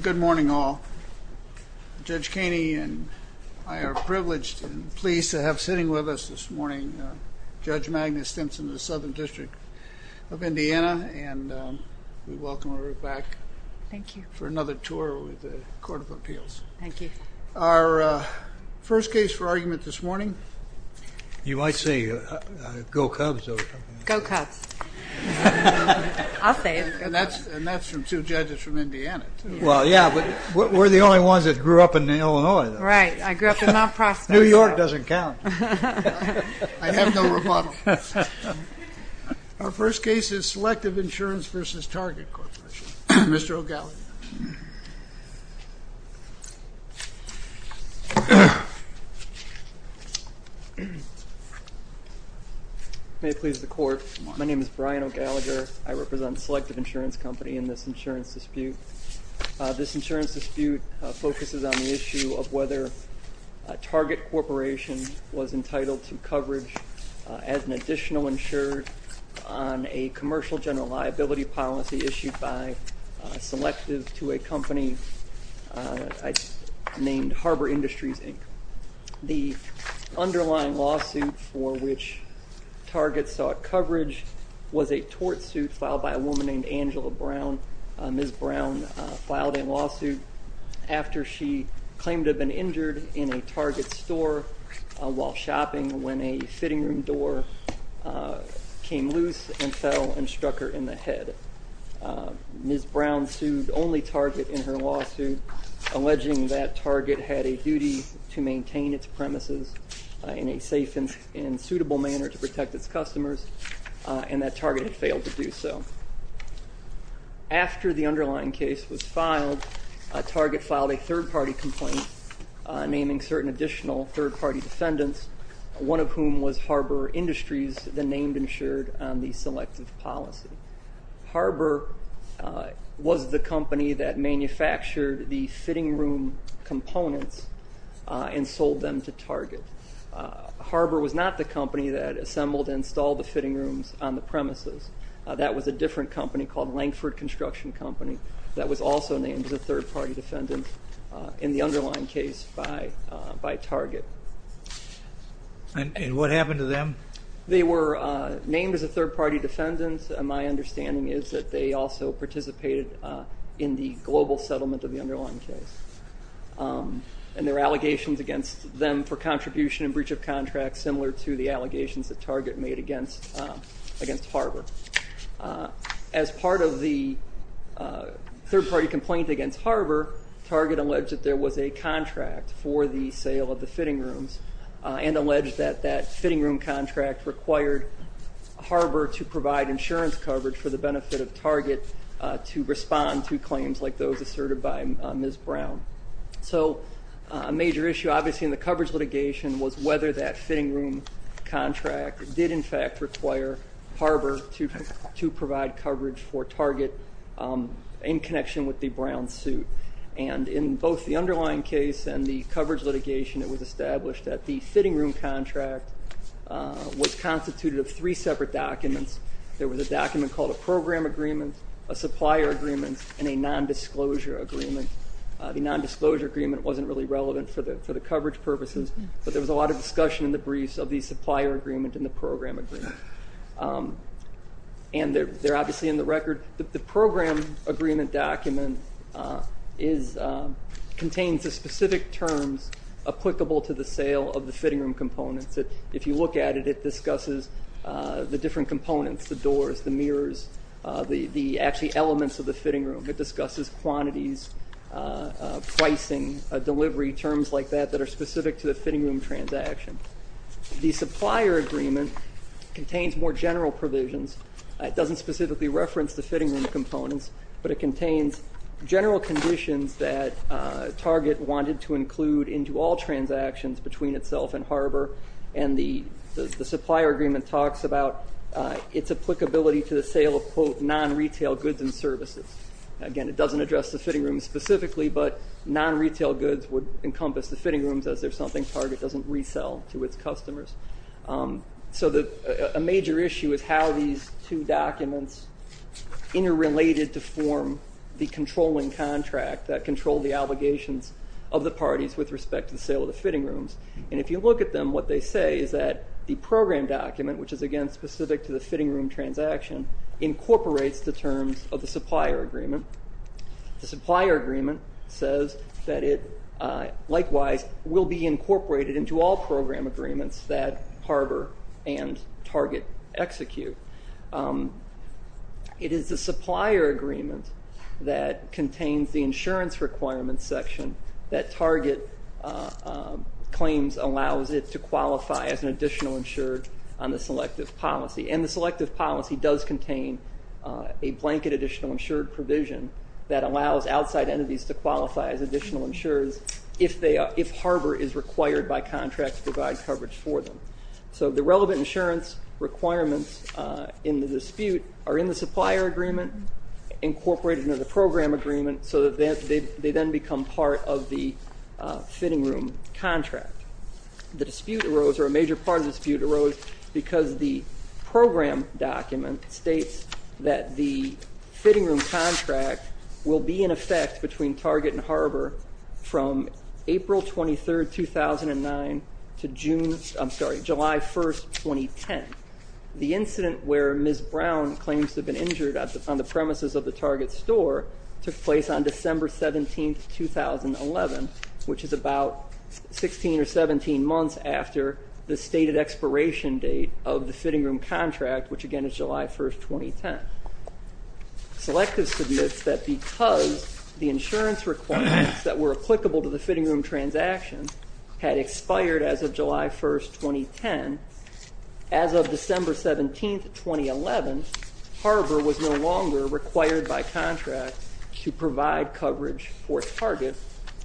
Good morning all. Judge Kaney and I are privileged and pleased to have sitting with us this morning Judge Magnus Simpson of the Southern District of Indiana and we welcome her back for another tour with the Court of Appeals. Thank you. Our first case for argument this morning. You might say Go Cubs. Go Cubs. I'll say it. And that's from two judges from Indiana. Well, yeah, but we're the only ones that grew up in Illinois. Right. I grew up in Mount Prospect. New York doesn't count. I have no rebuttal. Our first case is Selective Insurance v. Target Corporation. Mr. O'Gallagher. May it please the Court. My name is Brian O'Gallagher. I represent Selective Insurance Company in this insurance dispute. This insurance dispute focuses on the issue of whether Target Corporation was entitled to coverage as an additional insured on a commercial general liability policy issued by a selective to a company named Harbor Industries, Inc. The underlying lawsuit for which Target sought coverage was a tort suit filed by a woman named Angela Brown. Ms. Brown filed a lawsuit after she claimed to have been injured in a Target store while shopping when a fitting room door came loose and fell and struck her in the head. Ms. Brown sued only Target in her lawsuit, alleging that Target had a duty to maintain its premises in a safe and suitable manner to protect its customers, and that Target had failed to do so. After the underlying case was filed, Target filed a third-party complaint naming certain additional third-party defendants, one of whom was Harbor Industries, then named insured on the selective policy. Harbor was the company that manufactured the fitting room components and sold them to Target. Harbor was not the company that assembled and installed the fitting rooms on the premises. That was a different company called Lankford Construction Company that was also named as a third-party defendant in the underlying case by Target. And what happened to them? They were named as a third-party defendant. My understanding is that they also participated in the global settlement of the underlying case. And there are allegations against them for contribution and breach of contract similar to the allegations that Target made against Harbor. As part of the third-party complaint against Harbor, Target alleged that there was a contract for the sale of the fitting rooms, and alleged that that fitting room contract required Harbor to provide insurance coverage for the benefit of Target to respond to claims like those asserted by Ms. Brown. So a major issue obviously in the coverage litigation was whether that fitting room contract did in fact require Harbor to provide coverage for Target in connection with the Brown suit. And in both the underlying case and the coverage litigation, it was established that the fitting room contract was constituted of three separate documents. There was a document called a program agreement, a supplier agreement, and a nondisclosure agreement. The nondisclosure agreement wasn't really relevant for the coverage purposes, but there was a lot of discussion in the briefs of the supplier agreement and the program agreement. And they're obviously in the record. The program agreement document contains the specific terms applicable to the sale of the fitting room components. If you look at it, it discusses the different components, the doors, the mirrors, the actually elements of the fitting room. It discusses quantities, pricing, delivery, terms like that that are specific to the fitting room transaction. The supplier agreement contains more general provisions. It doesn't specifically reference the fitting room components, but it contains general conditions that Target wanted to include into all transactions between itself and Harbor. And the supplier agreement talks about its applicability to the sale of, quote, non-retail goods and services. Again, it doesn't address the fitting room specifically, but non-retail goods would encompass the fitting rooms as they're something Target doesn't resell to its customers. So a major issue is how these two documents interrelated to form the controlling contract that controlled the obligations of the parties with respect to the sale of the fitting rooms. And if you look at them, what they say is that the program document, which is again specific to the fitting room transaction, incorporates the terms of the supplier agreement. The supplier agreement says that it likewise will be incorporated into all program agreements that Harbor and Target execute. It is the supplier agreement that contains the insurance requirements section that Target claims allows it to qualify as an additional insured on the selective policy. And the selective policy does contain a blanket additional insured provision that allows outside entities to qualify as additional insureds if Harbor is required by contracts to provide coverage for them. So the relevant insurance requirements in the dispute are in the supplier agreement incorporated into the program agreement so that they then become part of the fitting room contract. The dispute arose, or a major part of the dispute arose, because the program document states that the fitting room contract will be in effect between Target and Harbor from April 23, 2009 to July 1, 2010. The incident where Ms. Brown claims to have been injured on the premises of the Target store took place on December 17, 2011, which is about 16 or 17 months after the stated expiration date of the fitting room contract, which again is July 1, 2010. Selective submits that because the insurance requirements that were applicable to the fitting room transaction had expired as of July 1, 2010, as of December 17, 2011, Harbor was no longer required by contracts to provide coverage for Target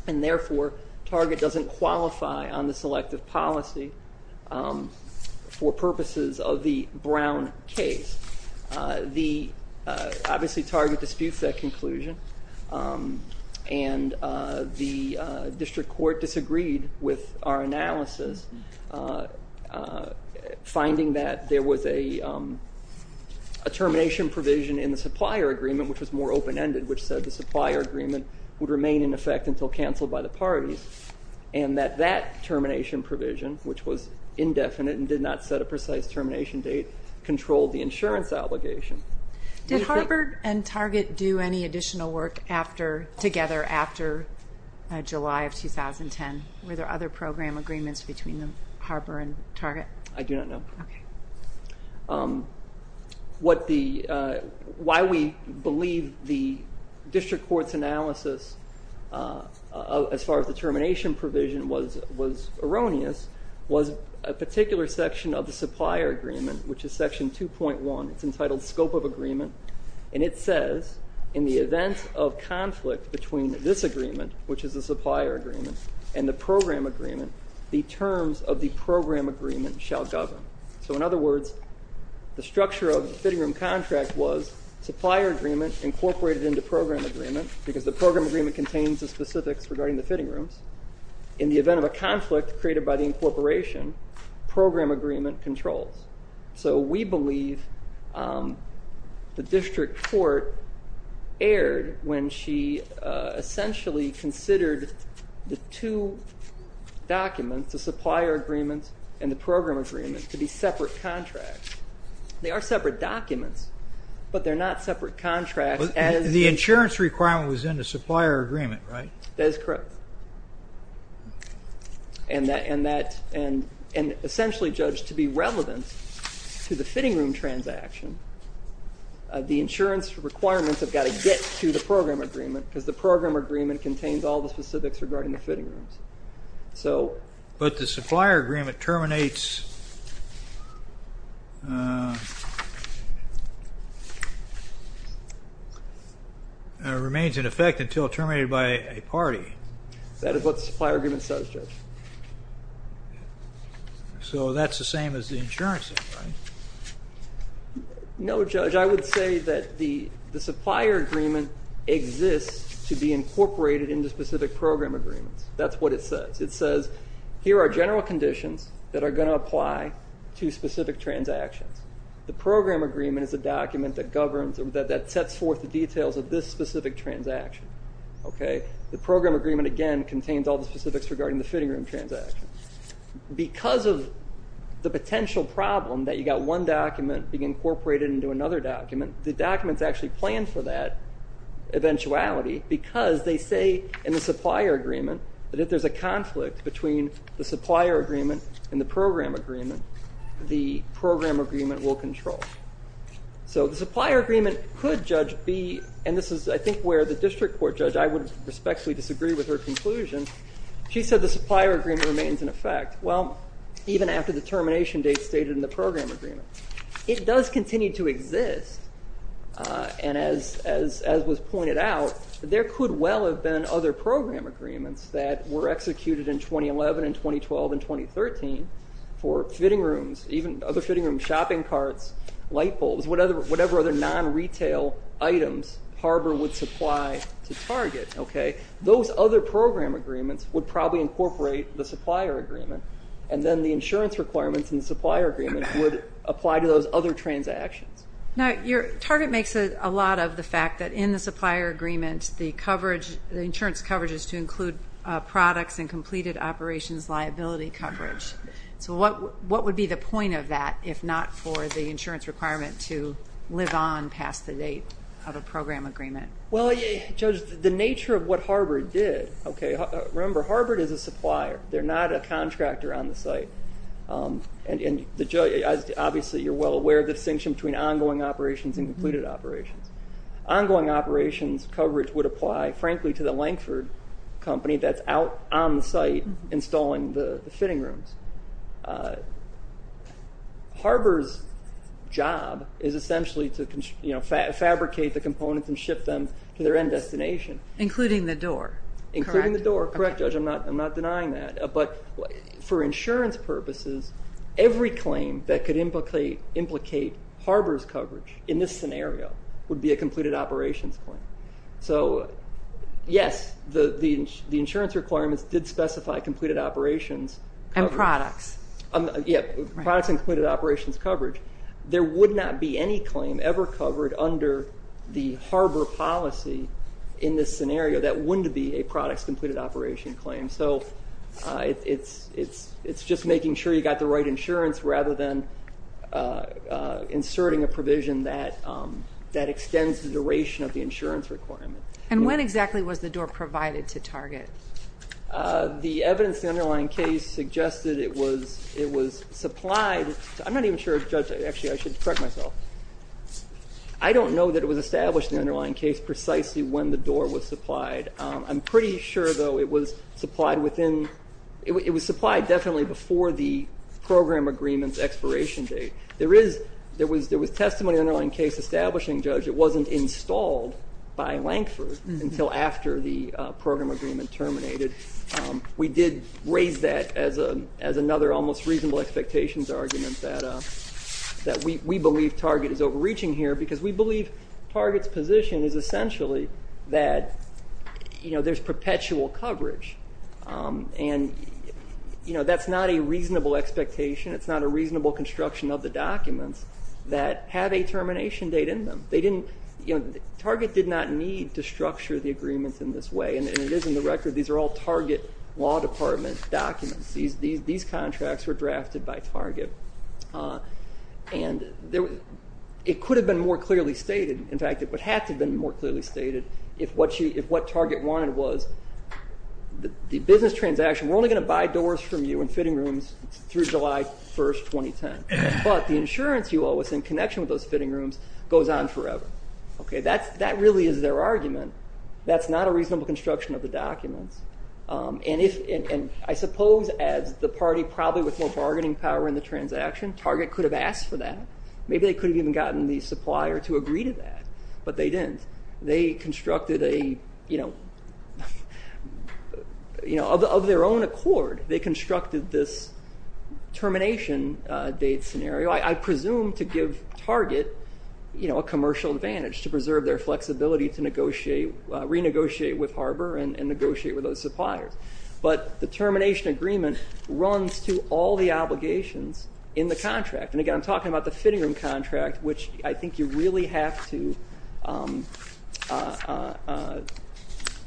and therefore Target doesn't qualify on the selective policy for purposes of the Brown case. The obviously Target disputes that conclusion and the district court disagreed with our analysis, finding that there was a termination provision in the supplier agreement, which was more open-ended, which said the supplier agreement would remain in effect until canceled by the parties and that that termination provision, which was indefinite and did not set a precise termination date, controlled the insurance obligation. Did Harbor and Target do any additional work together after July of 2010? Were there other program agreements between Harbor and Target? I do not know. Okay. Why we believe the district court's analysis as far as the termination provision was erroneous was a particular section of the supplier agreement, which is section 2.1. It's entitled Scope of Agreement, and it says in the event of conflict between this agreement, which is the supplier agreement and the program agreement, the terms of the program agreement shall govern. So in other words, the structure of the fitting room contract was supplier agreement incorporated into program agreement because the program agreement contains the specifics regarding the fitting rooms. In the event of a conflict created by the incorporation, program agreement controls. So we believe the district court erred when she essentially considered the two documents, the supplier agreement and the program agreement, to be separate contracts. They are separate documents, but they're not separate contracts. The insurance requirement was in the supplier agreement, right? That is correct. And essentially judged to be relevant to the fitting room transaction, the insurance requirements have got to get to the program agreement because the program agreement contains all the specifics regarding the fitting rooms. But the supplier agreement terminates, remains in effect until terminated by a party. That is what the supplier agreement says, Judge. So that's the same as the insurance thing, right? No, Judge. I would say that the supplier agreement exists to be incorporated into specific program agreements. That's what it says. It says here are general conditions that are going to apply to specific transactions. The program agreement is a document that governs or that sets forth the details of this specific transaction. The program agreement, again, contains all the specifics regarding the fitting room transactions. Because of the potential problem that you've got one document being incorporated into another document, the documents actually plan for that eventuality because they say in the supplier agreement that if there's a conflict between the supplier agreement and the program agreement, the program agreement will control. So the supplier agreement could, Judge, be, and this is, I think, where the district court judge, I would respectfully disagree with her conclusion. She said the supplier agreement remains in effect. Well, even after the termination date stated in the program agreement. It does continue to exist. And as was pointed out, there could well have been other program agreements that were executed in 2011 and 2012 and 2013 for fitting rooms, even other fitting rooms, shopping carts, light bulbs, whatever other non-retail items Harbor would supply to Target. Those other program agreements would probably incorporate the supplier agreement and then the insurance requirements in the supplier agreement would apply to those other transactions. Now, Target makes a lot of the fact that in the supplier agreement, the insurance coverage is to include products and completed operations liability coverage. So what would be the point of that if not for the insurance requirement to live on past the date of a program agreement? Well, Judge, the nature of what Harbor did, remember, Harbor is a supplier. They're not a contractor on the site. Obviously, you're well aware of the distinction between ongoing operations and completed operations. Ongoing operations coverage would apply, frankly, to the Lankford company that's out on the site installing the fitting rooms. Harbor's job is essentially to fabricate the components and ship them to their end destination. Including the door, correct? Including the door, correct, Judge. I'm not denying that. But for insurance purposes, every claim that could implicate Harbor's coverage in this scenario would be a completed operations claim. So, yes, the insurance requirements did specify completed operations coverage. And products. Yeah, products and completed operations coverage. There would not be any claim ever covered under the Harbor policy in this scenario that wouldn't be a products completed operation claim. So it's just making sure you've got the right insurance rather than inserting a provision that extends the duration of the insurance requirement. And when exactly was the door provided to Target? The evidence in the underlying case suggested it was supplied. I'm not even sure, Judge, actually I should correct myself. I don't know that it was established in the underlying case precisely when the door was supplied. I'm pretty sure, though, it was supplied definitely before the program agreement's expiration date. There was testimony in the underlying case establishing, Judge, it wasn't installed by Lankford until after the program agreement terminated. We did raise that as another almost reasonable expectations argument that we believe Target is overreaching here because we believe Target's position is essentially that there's perpetual coverage. And that's not a reasonable expectation. It's not a reasonable construction of the documents that have a termination date in them. Target did not need to structure the agreement in this way, and it is in the record these are all Target Law Department documents. These contracts were drafted by Target. And it could have been more clearly stated. In fact, it would have to have been more clearly stated if what Target wanted was the business transaction, we're only going to buy doors from you and fitting rooms through July 1, 2010. But the insurance you owe us in connection with those fitting rooms goes on forever. That really is their argument. That's not a reasonable construction of the documents. And I suppose as the party probably with more bargaining power in the transaction, Target could have asked for that. Maybe they could have even gotten the supplier to agree to that, but they didn't. They constructed a, you know, of their own accord, they constructed this termination date scenario, I presume to give Target a commercial advantage to preserve their flexibility to renegotiate with Harbor and negotiate with those suppliers. But the termination agreement runs to all the obligations in the contract. And again, I'm talking about the fitting room contract, which I think you really have to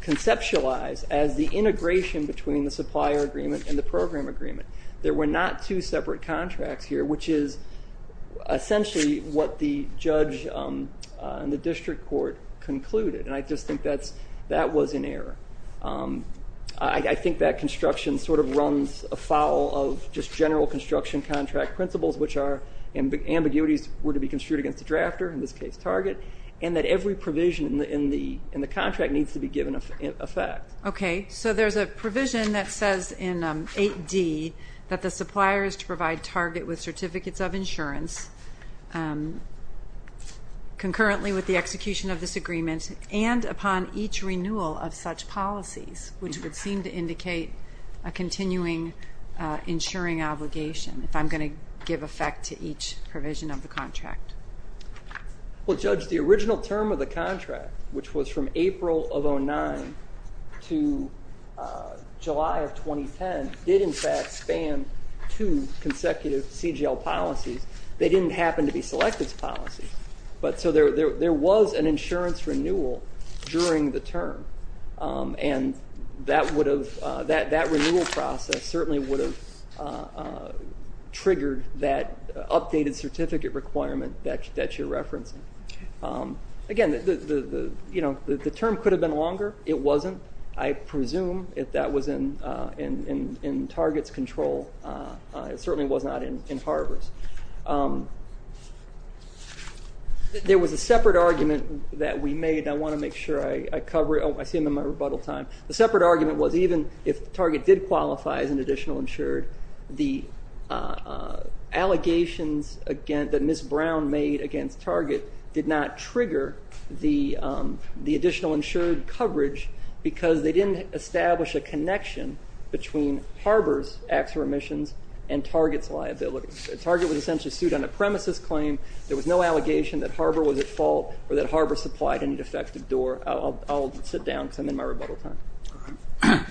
conceptualize as the integration between the supplier agreement and the program agreement. There were not two separate contracts here, which is essentially what the judge and the district court concluded. And I just think that was in error. I think that construction sort of runs afoul of just general construction contract principles, which are ambiguities were to be construed against the drafter, in this case Target, and that every provision in the contract needs to be given effect. Okay, so there's a provision that says in 8D concurrently with the execution of this agreement and upon each renewal of such policies, which would seem to indicate a continuing insuring obligation, if I'm going to give effect to each provision of the contract. Well, Judge, the original term of the contract, which was from April of 09 to July of 2010, did in fact span two consecutive CGL policies. They didn't happen to be selective policies, but so there was an insurance renewal during the term, and that renewal process certainly would have triggered that updated certificate requirement that you're referencing. Again, the term could have been longer. It wasn't. I presume if that was in Target's control, it certainly was not in Harbor's. There was a separate argument that we made, and I want to make sure I cover it. I see I'm in my rebuttal time. The separate argument was even if Target did qualify as an additional insured, the allegations that Ms. Brown made against Target did not trigger the additional insured coverage because they didn't establish a connection between Harbor's acts of remissions and Target's liability. Target was essentially sued on a premises claim. There was no allegation that Harbor was at fault or that Harbor supplied any defective door. I'll sit down because I'm in my rebuttal time. All right.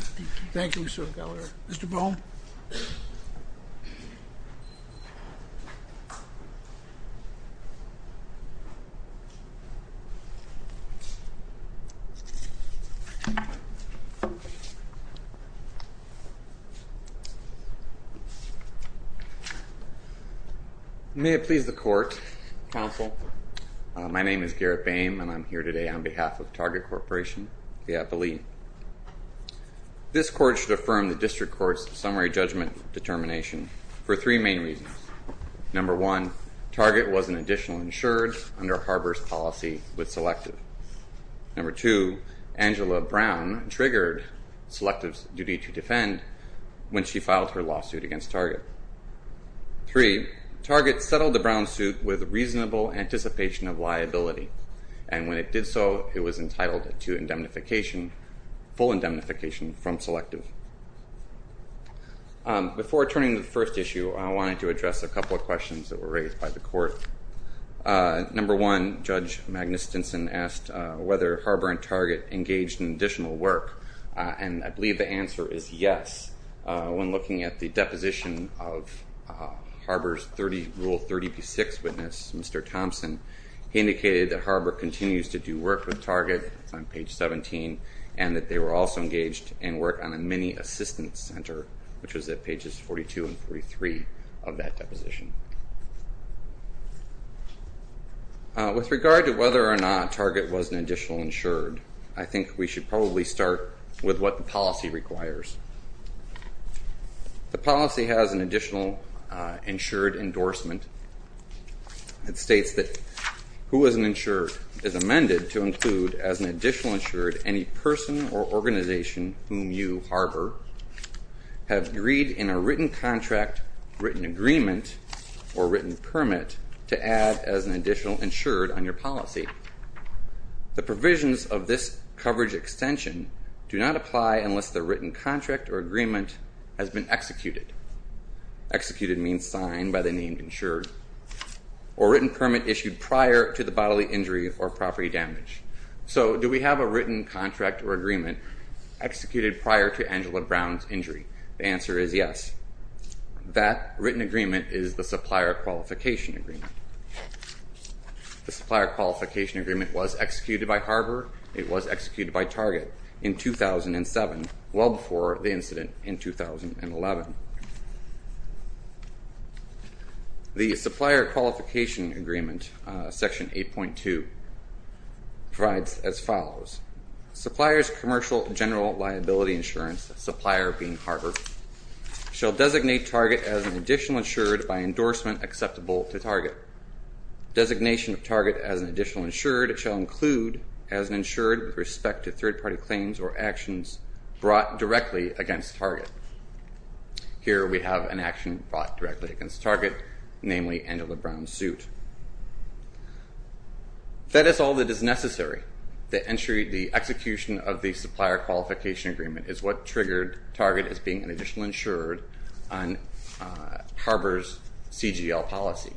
Thank you, Mr. Gallagher. Thank you, Mr. Brown. May it please the court. Counsel. My name is Garrett Boehm, and I'm here today on behalf of Target Corporation, the appellee. This court should affirm the district court's summary judgment determination for three main reasons. Number one, Target was an additional insured under Harbor's policy with Selective. Number two, Angela Brown triggered Selective's duty to defend when she filed her lawsuit against Target. Three, Target settled the Brown suit with reasonable anticipation of liability, and when it did so, it was entitled to indemnification, full indemnification from Selective. Before turning to the first issue, I wanted to address a couple of questions that were raised by the court. Number one, Judge Magnus Stinson asked whether Harbor and Target engaged in additional work, and I believe the answer is yes. When looking at the deposition of Harbor's Rule 30b-6 witness, Mr. Thompson, he indicated that Harbor continues to do work with Target on page 17 and that they were also engaged in work on a mini-assistance center, which was at pages 42 and 43 of that deposition. With regard to whether or not Target was an additional insured, I think we should probably start with what the policy requires. The policy has an additional insured endorsement. It states that who is an insured is amended to include as an additional insured any person or organization whom you, Harbor, have agreed in a written contract, written agreement, or written permit to add as an additional insured on your policy. The provisions of this coverage extension do not apply unless the written contract or agreement has been executed. Executed means signed by the named insured, or written permit issued prior to the bodily injury or property damage. So do we have a written contract or agreement executed prior to Angela Brown's injury? The answer is yes. That written agreement is the supplier qualification agreement. The supplier qualification agreement was executed by Harbor. It was executed by Target in 2007, well before the incident in 2011. The supplier qualification agreement, section 8.2, provides as follows. Supplier's commercial general liability insurance, supplier being Harbor, shall designate Target as an additional insured by endorsement acceptable to Target. Designation of Target as an additional insured shall include as an insured with respect to third-party claims or actions brought directly against Target. Here we have an action brought directly against Target, namely Angela Brown's suit. That is all that is necessary. The execution of the supplier qualification agreement is what triggered Target as being an additional insured on Harbor's CGL policy.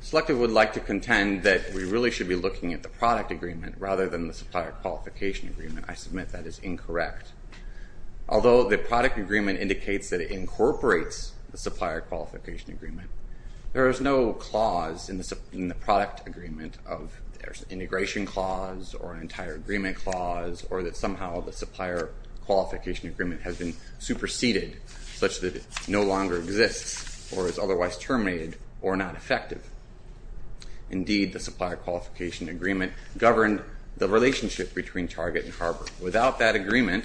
Selective would like to contend that we really should be looking at the product agreement rather than the supplier qualification agreement. I submit that is incorrect. Although the product agreement indicates that it incorporates the supplier qualification agreement, there is no clause in the product agreement of integration clause or an entire agreement clause or that somehow the supplier qualification agreement has been superseded such that it no longer exists or is otherwise terminated or not effective. Indeed, the supplier qualification agreement governed the relationship between Target and Harbor. Without that agreement,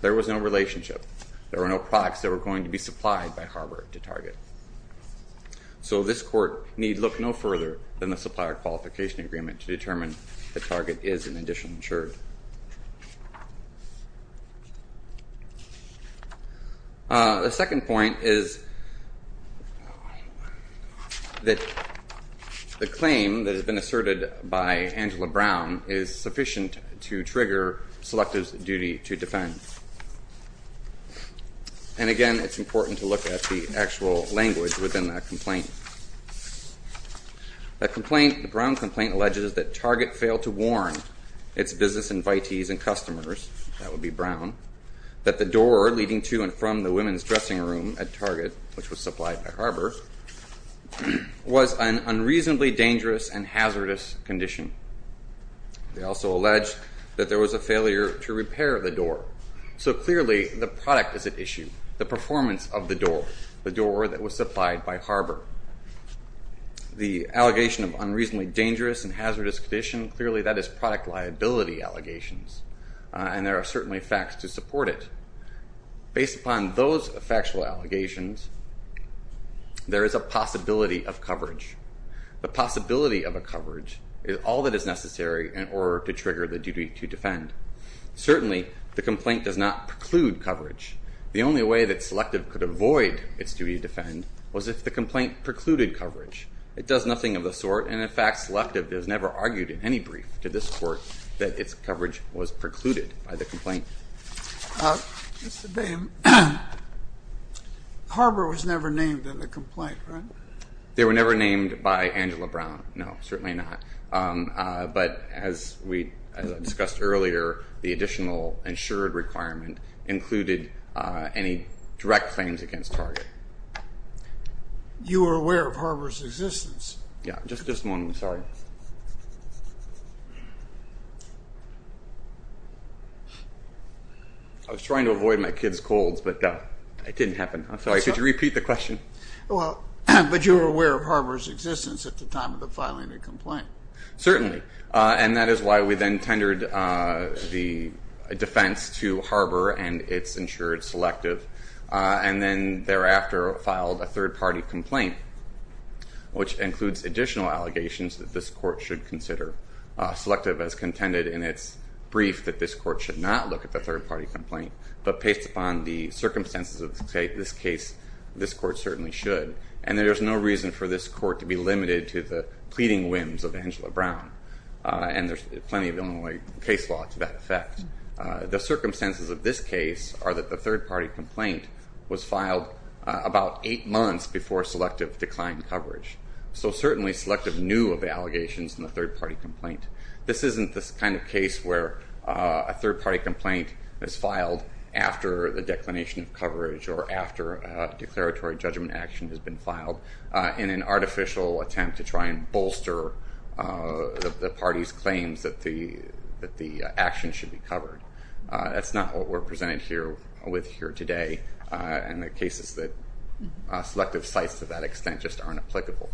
there was no relationship. There were no products that were going to be supplied by Harbor to Target. So this court need look no further than the supplier qualification agreement to determine that Target is an additional insured. The second point is that the claim that has been asserted by Angela Brown is sufficient to trigger Selective's duty to defend. And again, it's important to look at the actual language within that complaint. The Brown complaint alleges that Target failed to warn its business invitees and customers, that would be Brown, that the door leading to and from the women's dressing room at Target, which was supplied by Harbor, was an unreasonably dangerous and hazardous condition. They also alleged that there was a failure to repair the door. So clearly, the product is at issue, the performance of the door, that was supplied by Harbor. The allegation of unreasonably dangerous and hazardous condition, clearly that is product liability allegations, and there are certainly facts to support it. Based upon those factual allegations, there is a possibility of coverage. The possibility of a coverage is all that is necessary in order to trigger the duty to defend. Certainly, the complaint does not preclude coverage. The only way that Selective could avoid its duty to defend was if the complaint precluded coverage. It does nothing of the sort, and in fact, Selective has never argued in any brief to this court that its coverage was precluded by the complaint. Mr. Boehm, Harbor was never named in the complaint, right? They were never named by Angela Brown. No, certainly not. But as we discussed earlier, the additional insured requirement included any direct claims against Target. You were aware of Harbor's existence? Yeah, just this moment, sorry. I was trying to avoid my kids' colds, but it didn't happen. But you were aware of Harbor's existence at the time of the filing of the complaint? Certainly, and that is why we then tendered the defense to Harbor and its insured Selective, and then thereafter filed a third-party complaint, which includes additional allegations that this court should consider. Selective has contended in its brief that this court should not look at the third-party complaint, but based upon the circumstances of this case, this court certainly should. And there's no reason for this court to be limited to the pleading whims of Angela Brown, and there's plenty of Illinois case law to that effect. The circumstances of this case are that the third-party complaint was filed about eight months before Selective declined coverage. So certainly, Selective knew of the allegations in the third-party complaint. This isn't this kind of case where a third-party complaint is filed after the declination of coverage or after a declaratory judgment action has been filed in an artificial attempt to try and bolster the party's claims that the action should be covered. That's not what we're presented with here today, and the cases that Selective cites to that extent just aren't applicable.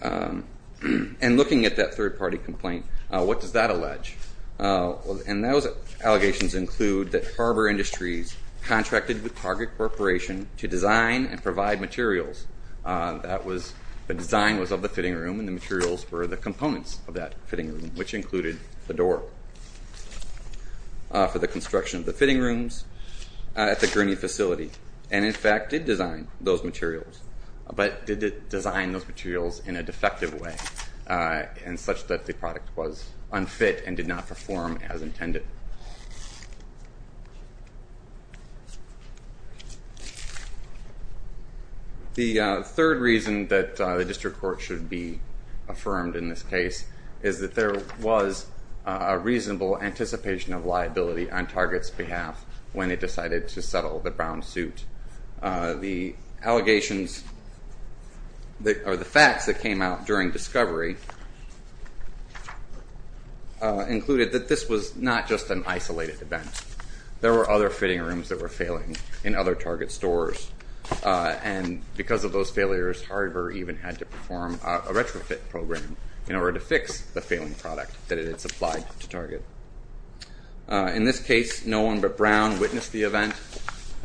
And looking at that third-party complaint, what does that allege? And those allegations include that Harbor Industries contracted with Target Corporation to design and provide materials. The design was of the fitting room, and the materials were the components of that fitting room, which included the door for the construction of the fitting rooms at the Gurney facility, and in fact did design those materials, but did design those materials in a defective way in such that the product was unfit and did not perform as intended. The third reason that the district court should be affirmed in this case is that there was a reasonable anticipation of liability on Target's behalf when it decided to settle the Brown suit. The allegations or the facts that came out during discovery included that this was not just an isolated event. There were other fitting rooms that were failing in other Target stores, and because of those failures, Harbor even had to perform a retrofit program in order to fix the failing product that it had supplied to Target. In this case, no one but Brown witnessed the event,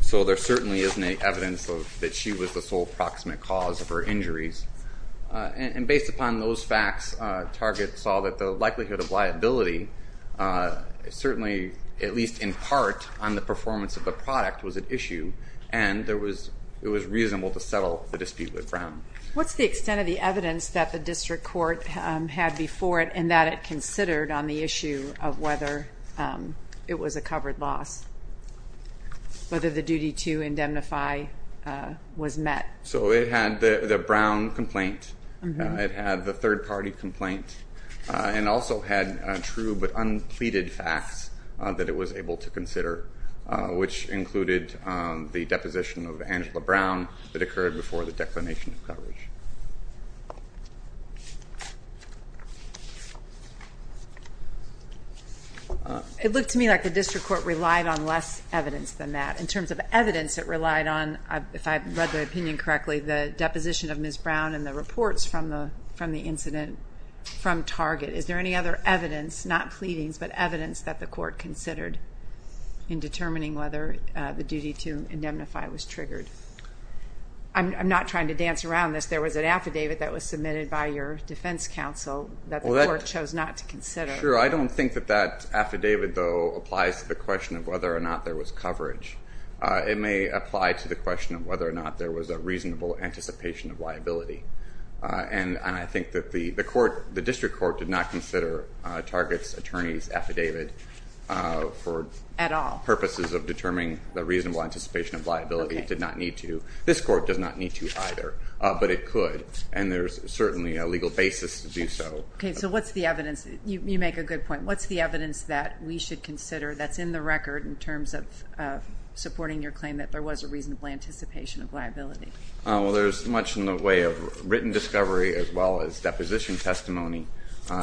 so there certainly isn't any evidence that she was the sole proximate cause of her injuries. And based upon those facts, Target saw that the likelihood of liability certainly, at least in part, on the performance of the product was at issue, and it was reasonable to settle the dispute with Brown. What's the extent of the evidence that the district court had before it and that it considered on the issue of whether it was a covered loss, whether the duty to indemnify was met? So it had the Brown complaint, it had the third-party complaint, and also had true but unpleaded facts that it was able to consider, which included the deposition of Angela Brown that occurred before the declination of coverage. It looked to me like the district court relied on less evidence than that. In terms of evidence it relied on, if I read the opinion correctly, the deposition of Ms. Brown and the reports from the incident from Target. Is there any other evidence, not pleadings, but evidence that the court considered in determining whether the duty to indemnify was triggered? I'm not trying to dance around this. There was an affidavit that was submitted by your defense counsel that the court chose not to consider. Sure, I don't think that that affidavit, though, applies to the question of whether or not there was coverage. It may apply to the question of whether or not there was a reasonable anticipation of liability. And I think that the district court did not consider Target's attorney's affidavit for purposes of determining the reasonable anticipation of liability. It did not need to. This court does not need to either, but it could. And there's certainly a legal basis to do so. Okay, so what's the evidence? You make a good point. What's the evidence that we should consider that's in the record in terms of supporting your claim that there was a reasonable anticipation of liability? Well, there's much in the way of written discovery as well as deposition testimony.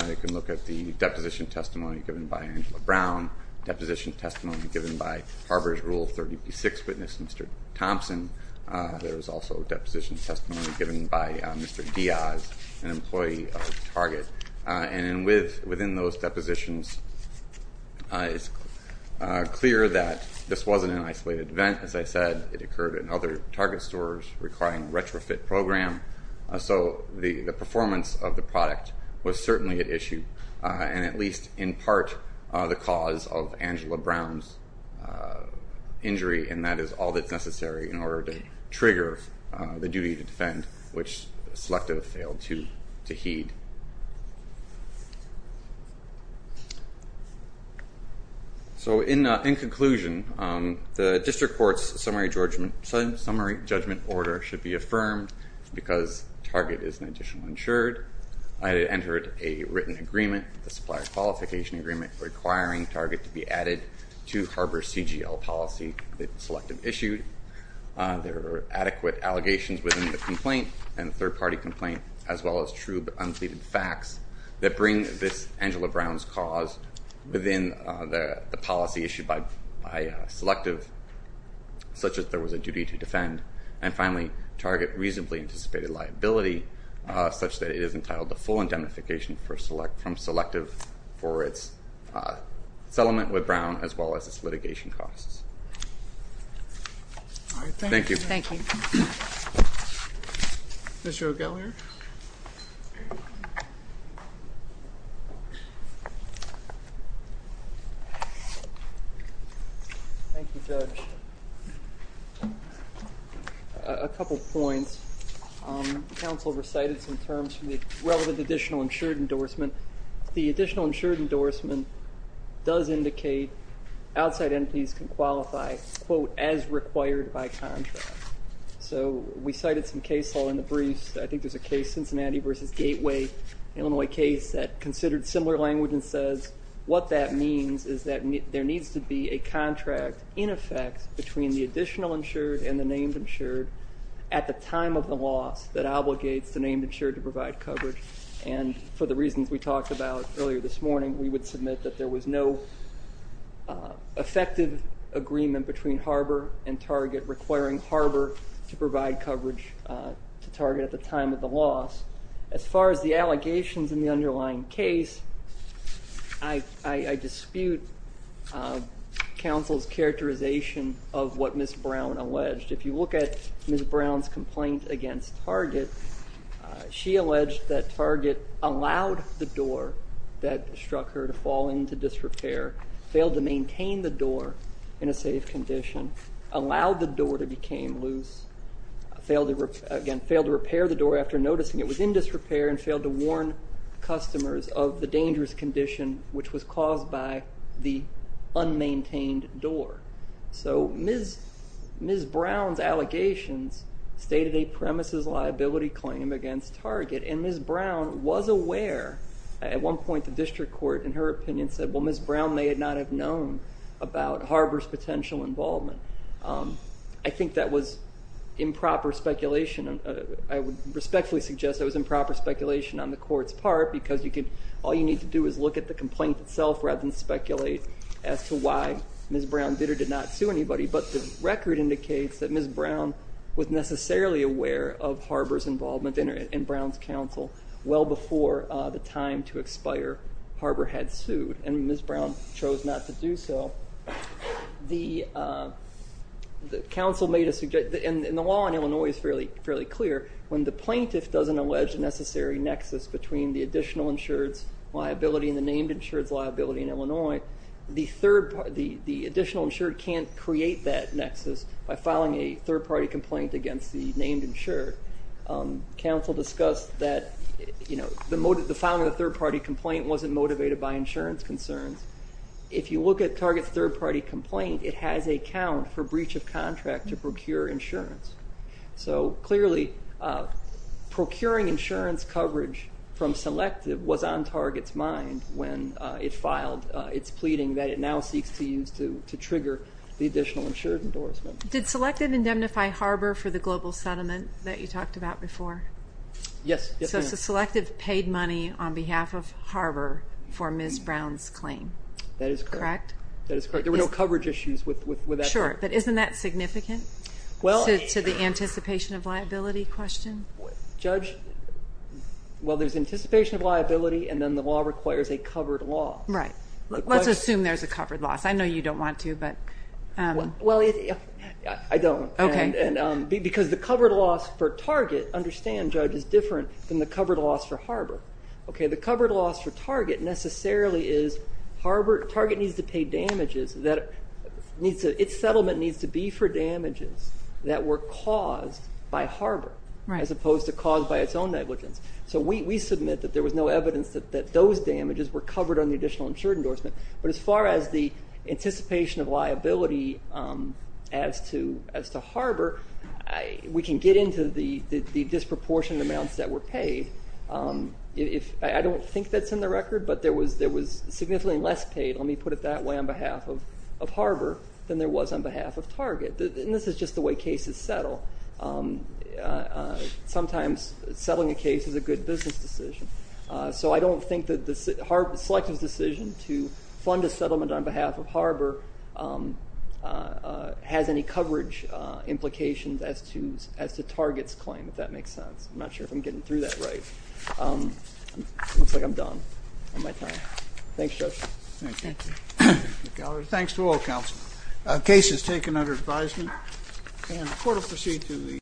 You can look at the deposition testimony given by Angela Brown, deposition testimony given by Harbor's Rule 30p6 witness, Mr. Thompson. There is also deposition testimony given by Mr. Diaz, an employee of Target. And within those depositions, it's clear that this wasn't an isolated event. As I said, it occurred in other Target stores requiring a retrofit program. So the performance of the product was certainly at issue, and at least in part the cause of Angela Brown's injury, and that is all that's necessary in order to trigger the duty to defend, which the selective failed to heed. So in conclusion, the district court's summary judgment order should be affirmed because Target is an additional insured. I had entered a written agreement, the supplier qualification agreement, requiring Target to be added to Harbor's CGL policy that the selective issued. There are adequate allegations within the complaint and the third-party complaint, as well as true but unpleaded facts that bring this Angela Brown's cause within the policy issued by selective, such that there was a duty to defend. And finally, Target reasonably anticipated liability, such that it is entitled to full indemnification from selective for its settlement with Brown, as well as its litigation costs. Thank you. Thank you. Mr. O'Gallagher. Thank you, Judge. A couple points. Counsel recited some terms from the relevant additional insured endorsement. The additional insured endorsement does indicate outside entities can qualify, quote, as required by contract. So we cited some case law in the briefs. I think there's a case, Cincinnati v. Gateway, Illinois case, that considered similar language and says what that means is that there needs to be a contract in effect between the additional insured and the named insured at the time of the loss that obligates the named insured to provide coverage. And for the reasons we talked about earlier this morning, we would submit that there was no effective agreement between Harbor and Target requiring Harbor to provide coverage to Target at the time of the loss. As far as the allegations in the underlying case, I dispute counsel's characterization of what Ms. Brown alleged. If you look at Ms. Brown's complaint against Target, she alleged that Target allowed the door that struck her to fall into disrepair, failed to maintain the door in a safe condition, allowed the door to become loose, again, failed to repair the door after noticing it was in disrepair and failed to warn customers of the dangerous condition which was caused by the unmaintained door. So Ms. Brown's allegations stated a premises liability claim against Target, and Ms. Brown was aware. At one point the district court, in her opinion, said, well, Ms. Brown may not have known about Harbor's potential involvement. I think that was improper speculation. I would respectfully suggest it was improper speculation on the court's part because all you need to do is look at the complaint itself rather than speculate as to why Ms. Brown did or did not sue anybody. But the record indicates that Ms. Brown was necessarily aware of Harbor's involvement in Brown's counsel well before the time to expire Harbor had sued, and Ms. Brown chose not to do so. The counsel made a suggestion, and the law in Illinois is fairly clear, when the plaintiff doesn't allege a necessary nexus between the additional insured's liability and the named insured's liability in Illinois, the additional insured can't create that nexus by filing a third-party complaint against the named insured. Counsel discussed that the filing of the third-party complaint wasn't motivated by insurance concerns. If you look at Target's third-party complaint, it has a count for breach of contract to procure insurance. So clearly, procuring insurance coverage from Selective was on Target's mind when it filed its pleading that it now seeks to use to trigger the additional insured endorsement. Did Selective indemnify Harbor for the global settlement that you talked about before? Yes. So Selective paid money on behalf of Harbor for Ms. Brown's claim. That is correct. Correct? That is correct. There were no coverage issues with that claim. Sure, but isn't that significant to the anticipation of liability question? Judge, well, there's anticipation of liability, and then the law requires a covered loss. Right. Let's assume there's a covered loss. I know you don't want to, but… Well, I don't. Okay. Because the covered loss for Target, understand, Judge, is different than the covered loss for Harbor. The covered loss for Target necessarily is Harbor. Target needs to pay damages. Its settlement needs to be for damages that were caused by Harbor as opposed to caused by its own negligence. So we submit that there was no evidence that those damages were covered on the additional insured endorsement. But as far as the anticipation of liability as to Harbor, we can get into the disproportionate amounts that were paid. I don't think that's in the record, but there was significantly less paid, let me put it that way, on behalf of Harbor than there was on behalf of Target. And this is just the way cases settle. Sometimes settling a case is a good business decision. So I don't think that the Selective's decision to fund a settlement on behalf of Harbor has any coverage implications as to Target's claim, if that makes sense. I'm not sure if I'm getting through that right. It looks like I'm done on my time. Thanks, Judge. Thank you. Thank you, Mr. Gallagher. Thanks to all counsel. The case is taken under advisement, and the court will proceed to the hearing.